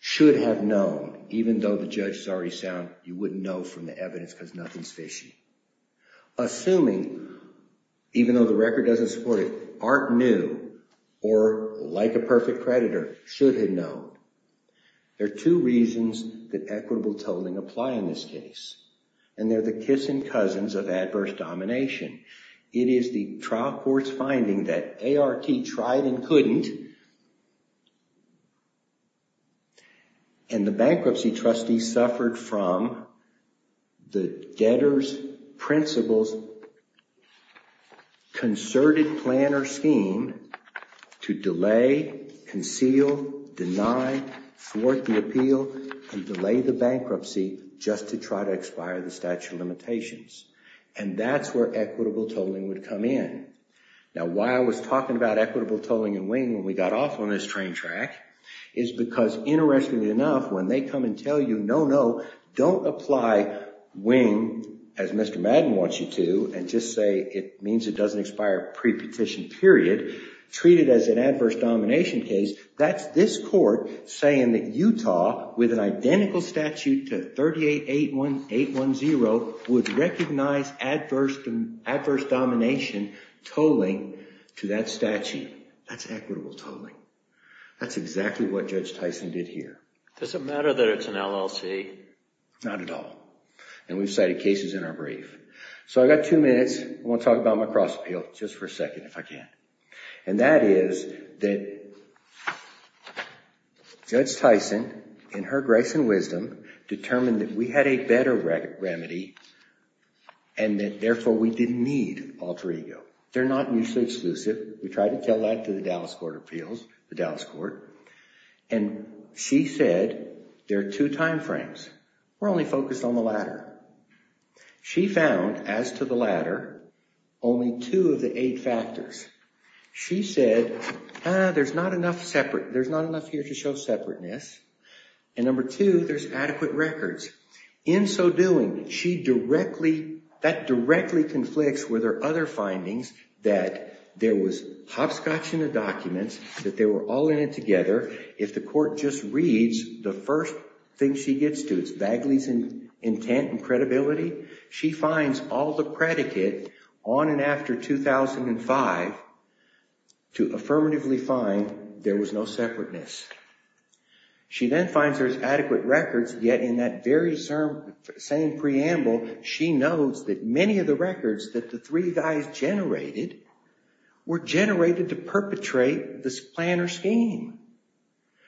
should have known, even though the judge is already sound, you wouldn't know from the evidence because nothing's fishy. Assuming even though the record doesn't support it, Art New, or like a perfect creditor, should have known. There are two reasons that equitable tolling apply in this case. They're the kissin' cousins of adverse domination. It is the trial court's finding that ART tried and couldn't proceed. The bankruptcy trustee suffered from the debtor's principles concerted planner scheme to delay, conceal, deny, thwart the appeal, and delay the bankruptcy just to try to expire the statute of limitations. That's where equitable tolling would come in. Now, why I was talking about equitable tolling and wing when we got off on this train track is because interestingly enough, when they come and tell you, no, no, don't apply wing as Mr. Madden wants you to and just say it means it doesn't expire pre-petition period, treat it as an adverse domination case, that's this court saying that Utah with an identical statute to 38-810 would recognize adverse domination tolling to that statute. That's equitable tolling. That's exactly what Judge Tyson did here. Does it matter that it's an LLC? Not at all. And we've cited cases in our brief. So I've got two minutes. I want to talk about my cross appeal just for a second if I can. And that is that Judge Tyson, in her grace and wisdom, determined that we had a better remedy and that therefore we didn't need alter ego. They're not mutually exclusive. We tried to tell that to the Dallas Court of Appeals, the Dallas Court, and she said there are two time frames. We're only focused on the latter. She found, as to the latter, only two of the eight factors. She said there's not enough here to show separateness and number two, there's adequate records. In so doing, she directly, that directly conflicts with her other findings that there was hopscotch in the documents, that they were all in it together. If the court just reads the first thing she gets to, it's Bagley's intent and credibility. She finds all the predicate on and after 2005 to affirmatively find there was no separateness. She then finds there's adequate records, yet in that very same preamble, she knows that many of the records that the three guys generated were generated to perpetrate this plan or scheme.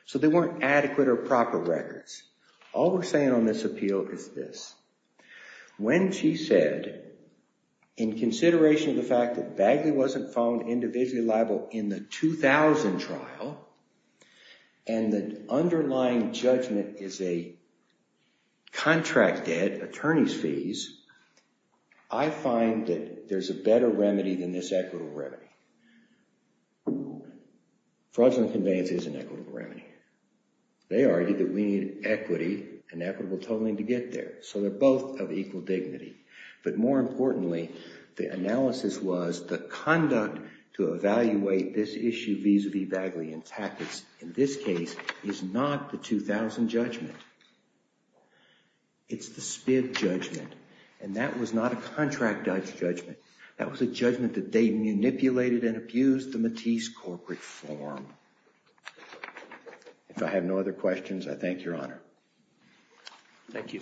So they weren't adequate or proper records. All we're saying on this appeal is this. When she said in consideration of the fact that Bagley wasn't found individually liable in the 2000 trial and the underlying judgment is a contract debt, attorney's fees, I find that there's a better remedy than this equitable remedy. Fraudulent conveyance is an equitable remedy. They argued that we need equity and equitable totaling to get there. So they're both of equal dignity. But more importantly, the analysis was the conduct to be Bagley and Tackett's in this case is not the 2000 judgment. It's the Spiv judgment and that was not a contract judgment. That was a judgment that they manipulated and abused the corporate form. If I have no other questions, I thank your honor. Thank you.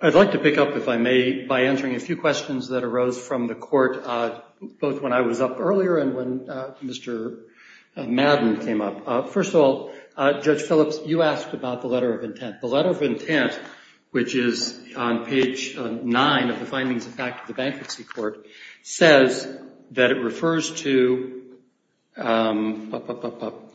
I'd like to pick up if I may by answering a few questions that arose from the court, both when I was up earlier and when Mr. Madden came up. First of all, Judge Phillips, you asked about the letter of intent. The letter of intent, which is on page court, says that it refers to the bankruptcy court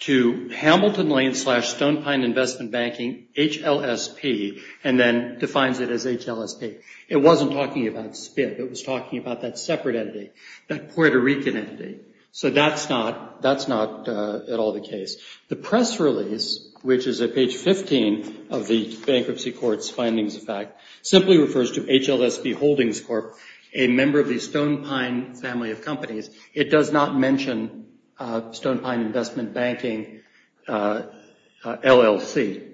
to Hamilton Lane slash Stone Pine Investment Banking, HLSP, and then defines it as HLSP. It wasn't talking about Spiv. It was talking about that separate entity, that Puerto Rican entity. So that's not at all the case. The press release, which is at page 15 of the bankruptcy court's findings of fact, simply refers to HLSP Holdings Corp, a member of the Stone Pine family of companies. It does not mention Stone Pine Investment Banking LLC.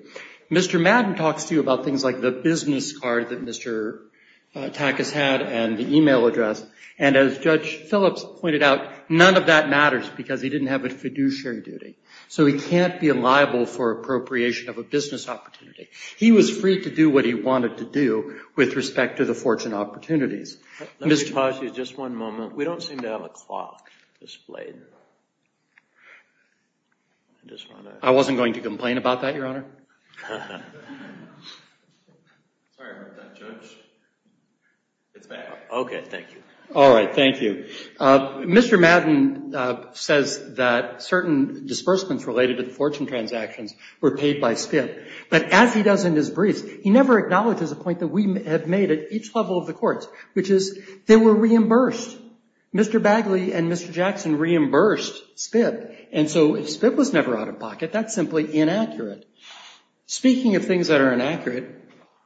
Mr. Madden talks to you about things like the business card that Mr. Takas had and the email address. And as Judge Phillips pointed out, none of that matters because he didn't have a fiduciary duty. So he can't be liable for appropriation of a business opportunity. He was free to do what he wanted to do with respect to the fortune opportunities. Let me pause you just one moment. We don't seem to have a clock displayed. I wasn't going to complain about that, Your Honor. Sorry about that, Judge. It's back. Okay, thank you. All right, thank you. Mr. Madden says that certain disbursements related to the fortune transactions were paid by Spiv. But as he does in his briefs, he never acknowledges a point that we have made at each level of the courts, which is they were reimbursed. Mr. Bagley and Mr. Jackson reimbursed Spiv. And so if Spiv was never out of pocket, that's simply inaccurate. Speaking of things that are inaccurate,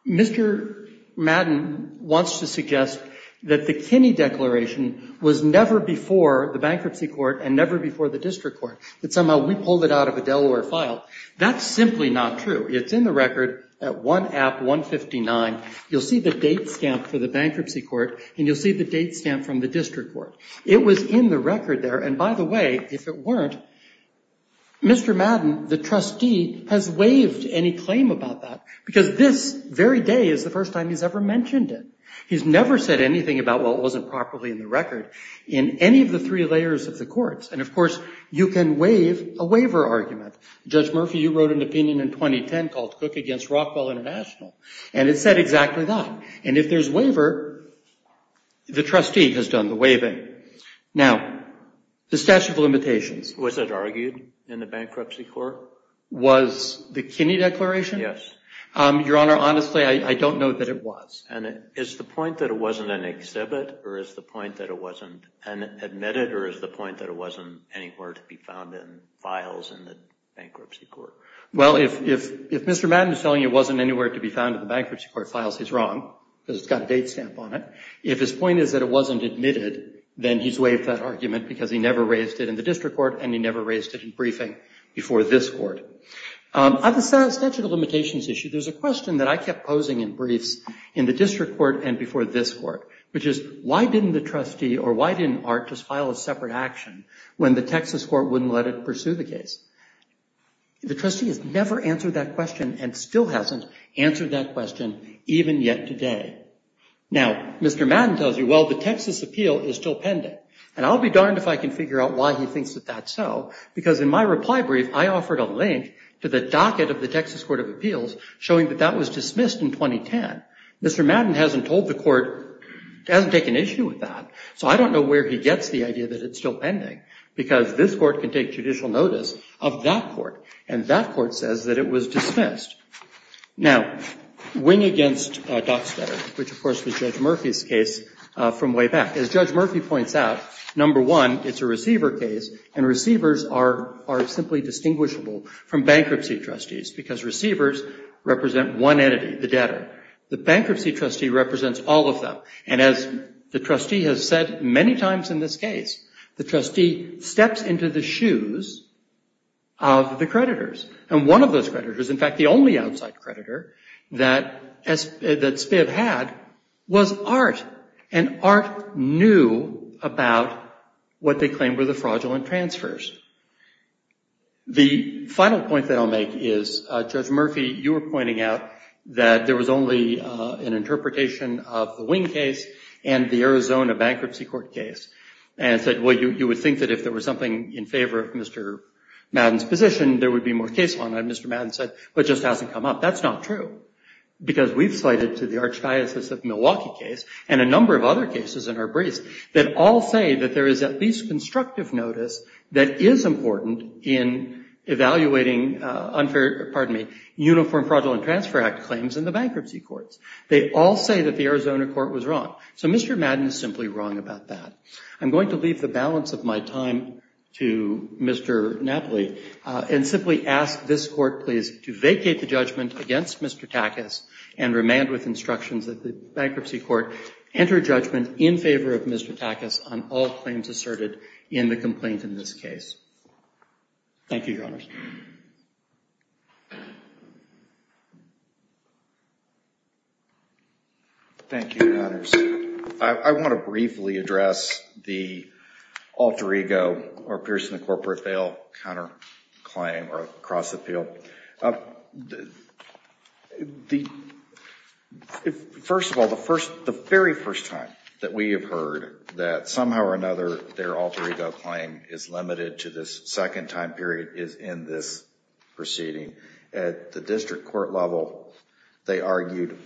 Mr. Madden wants to suggest that the Kinney Declaration was never before the bankruptcy court and never before the district court, that somehow we pulled it out of a Delaware file. That's simply not true. It's in the record at 1 App 159. You'll see the date stamp for the bankruptcy court and you'll see the date stamp from the district court. It was in the record there. And by the way, if it weren't, Mr. Madden, the trustee, has waived any claim about that because this very day is the first time he's ever mentioned it. He's never said anything about, well, it wasn't properly in the record, in any of the three layers of the courts. And of course, you can waive a waiver argument. Judge Murphy, you wrote an opinion in 2010 called Cook against Rockwell International, and it said exactly that. And if there's a waiver, the trustee has done the waiving. Now, the statute of limitations. Was it argued in the bankruptcy court? Was the Kinney Declaration? Yes. Your Honor, honestly, I don't know that it was. And is the point that it wasn't an exhibit, or is the point that it wasn't admitted, or is the point that it wasn't anywhere to be found in files in the If Mr. Madden is telling you it wasn't anywhere to be found in the bankruptcy court files, he's wrong because it's got a date stamp on it. If his point is that it wasn't admitted, then he's waived that argument because he never raised it in the district court, and he never raised it in briefing before this court. On the statute of limitations issue, there's a question that I kept posing in briefs in the district court and before this court, which is, why didn't the trustee, or why didn't Art, just file a separate action when the Texas court wouldn't let it pursue the case? The trustee has never answered that question, and still hasn't answered that question, even yet today. Now, Mr. Madden tells you, well, the Texas appeal is still pending. And I'll be darned if I can figure out why he thinks that that's so, because in my reply brief, I offered a link to the docket of the Texas Court of Appeals showing that that was dismissed in 2010. Mr. Madden hasn't told the court he hasn't taken issue with that, so I don't know where he gets the idea that it's still pending, because this court can take judicial notice of that court, and that court says that it was dismissed. Now, wing against Dockstader, which, of course, was Judge Murphy's case from way back. As Judge Murphy points out, number one, it's a receiver case, and receivers are simply distinguishable from bankruptcy trustees, because receivers represent one entity, the debtor. The bankruptcy trustee represents all of them, and as the trustee has said many times in this case, the trustee steps into the shoes of the creditors, and one of those creditors, in fact, the only outside creditor that Spiv had was Art, and Art knew about what they claimed were the fraudulent transfers. The final point that I'll make is, Judge Murphy, you were pointing out that there was only an interpretation of the wing case and the Arizona bankruptcy court case, and said, well, you would think that if there was something in favor of Mr. Madden's position, there would be more case law, and Mr. Madden said, well, it just hasn't come up. That's not true, because we've cited to the Archdiocese of Milwaukee case, and a number of other cases in our briefs, that all say that there is at least constructive notice that is important in evaluating uniform fraudulent transfer act claims in the bankruptcy courts. They all say that the Arizona court was wrong. So Mr. Madden is simply wrong about that. I'm going to leave the balance of my time to Mr. Napoli, and simply ask this court, please, to vacate the judgment against Mr. Takas, and remand with instructions that the bankruptcy court enter judgment in favor of Mr. Takas on all claims asserted in the complaint in this case. Thank you, Your Honor. Thank you, Your Honor. Thank you, Your Honor. I want to briefly address the alter ego or appears in the corporate fail counterclaim or cross appeal. First of all, the very first time that we have heard that somehow or another their alter ego claim is limited to this second time period is in this proceeding. At the district court level, they argued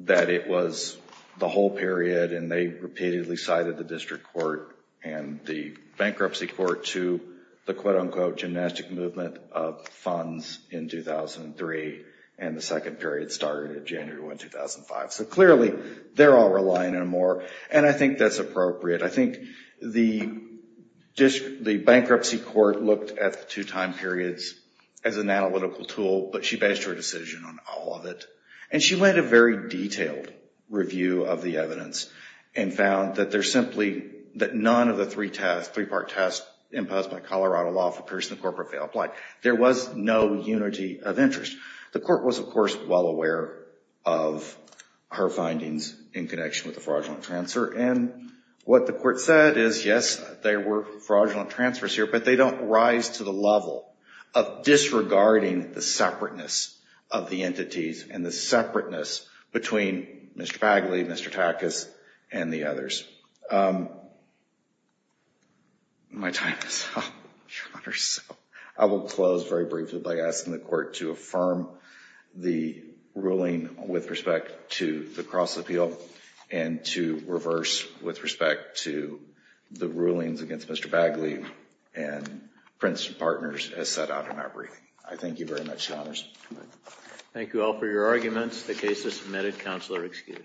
that it was the whole period, and they repeatedly cited the district court and the bankruptcy court to the quote unquote gymnastic movement of funds in 2003, and the second period started in January 2005. So clearly, they're all relying on more, and I think that's appropriate. I think the bankruptcy court looked at the two time periods as an analytical tool, but she based her decision on all of it, and she led a very detailed review of the evidence and found that none of the three-part test imposed by Colorado law for appears in the corporate fail plight. There was no unity of interest. The court was, of course, well aware of her findings in connection with the fraudulent transfer, and what the court said is, yes, there were fraudulent transfers here, but they don't rise to the level of disregarding the separateness of the entities and the separateness between Mr. Bagley, Mr. Takas, and the others. My time is up. I will close very briefly by asking the court to affirm the ruling with respect to the reverse with respect to the rulings against Mr. Bagley and Prince Partners as set out in our briefing. I thank you very much, Your Honors. Thank you all for your arguments. The case is submitted. Counselor excused.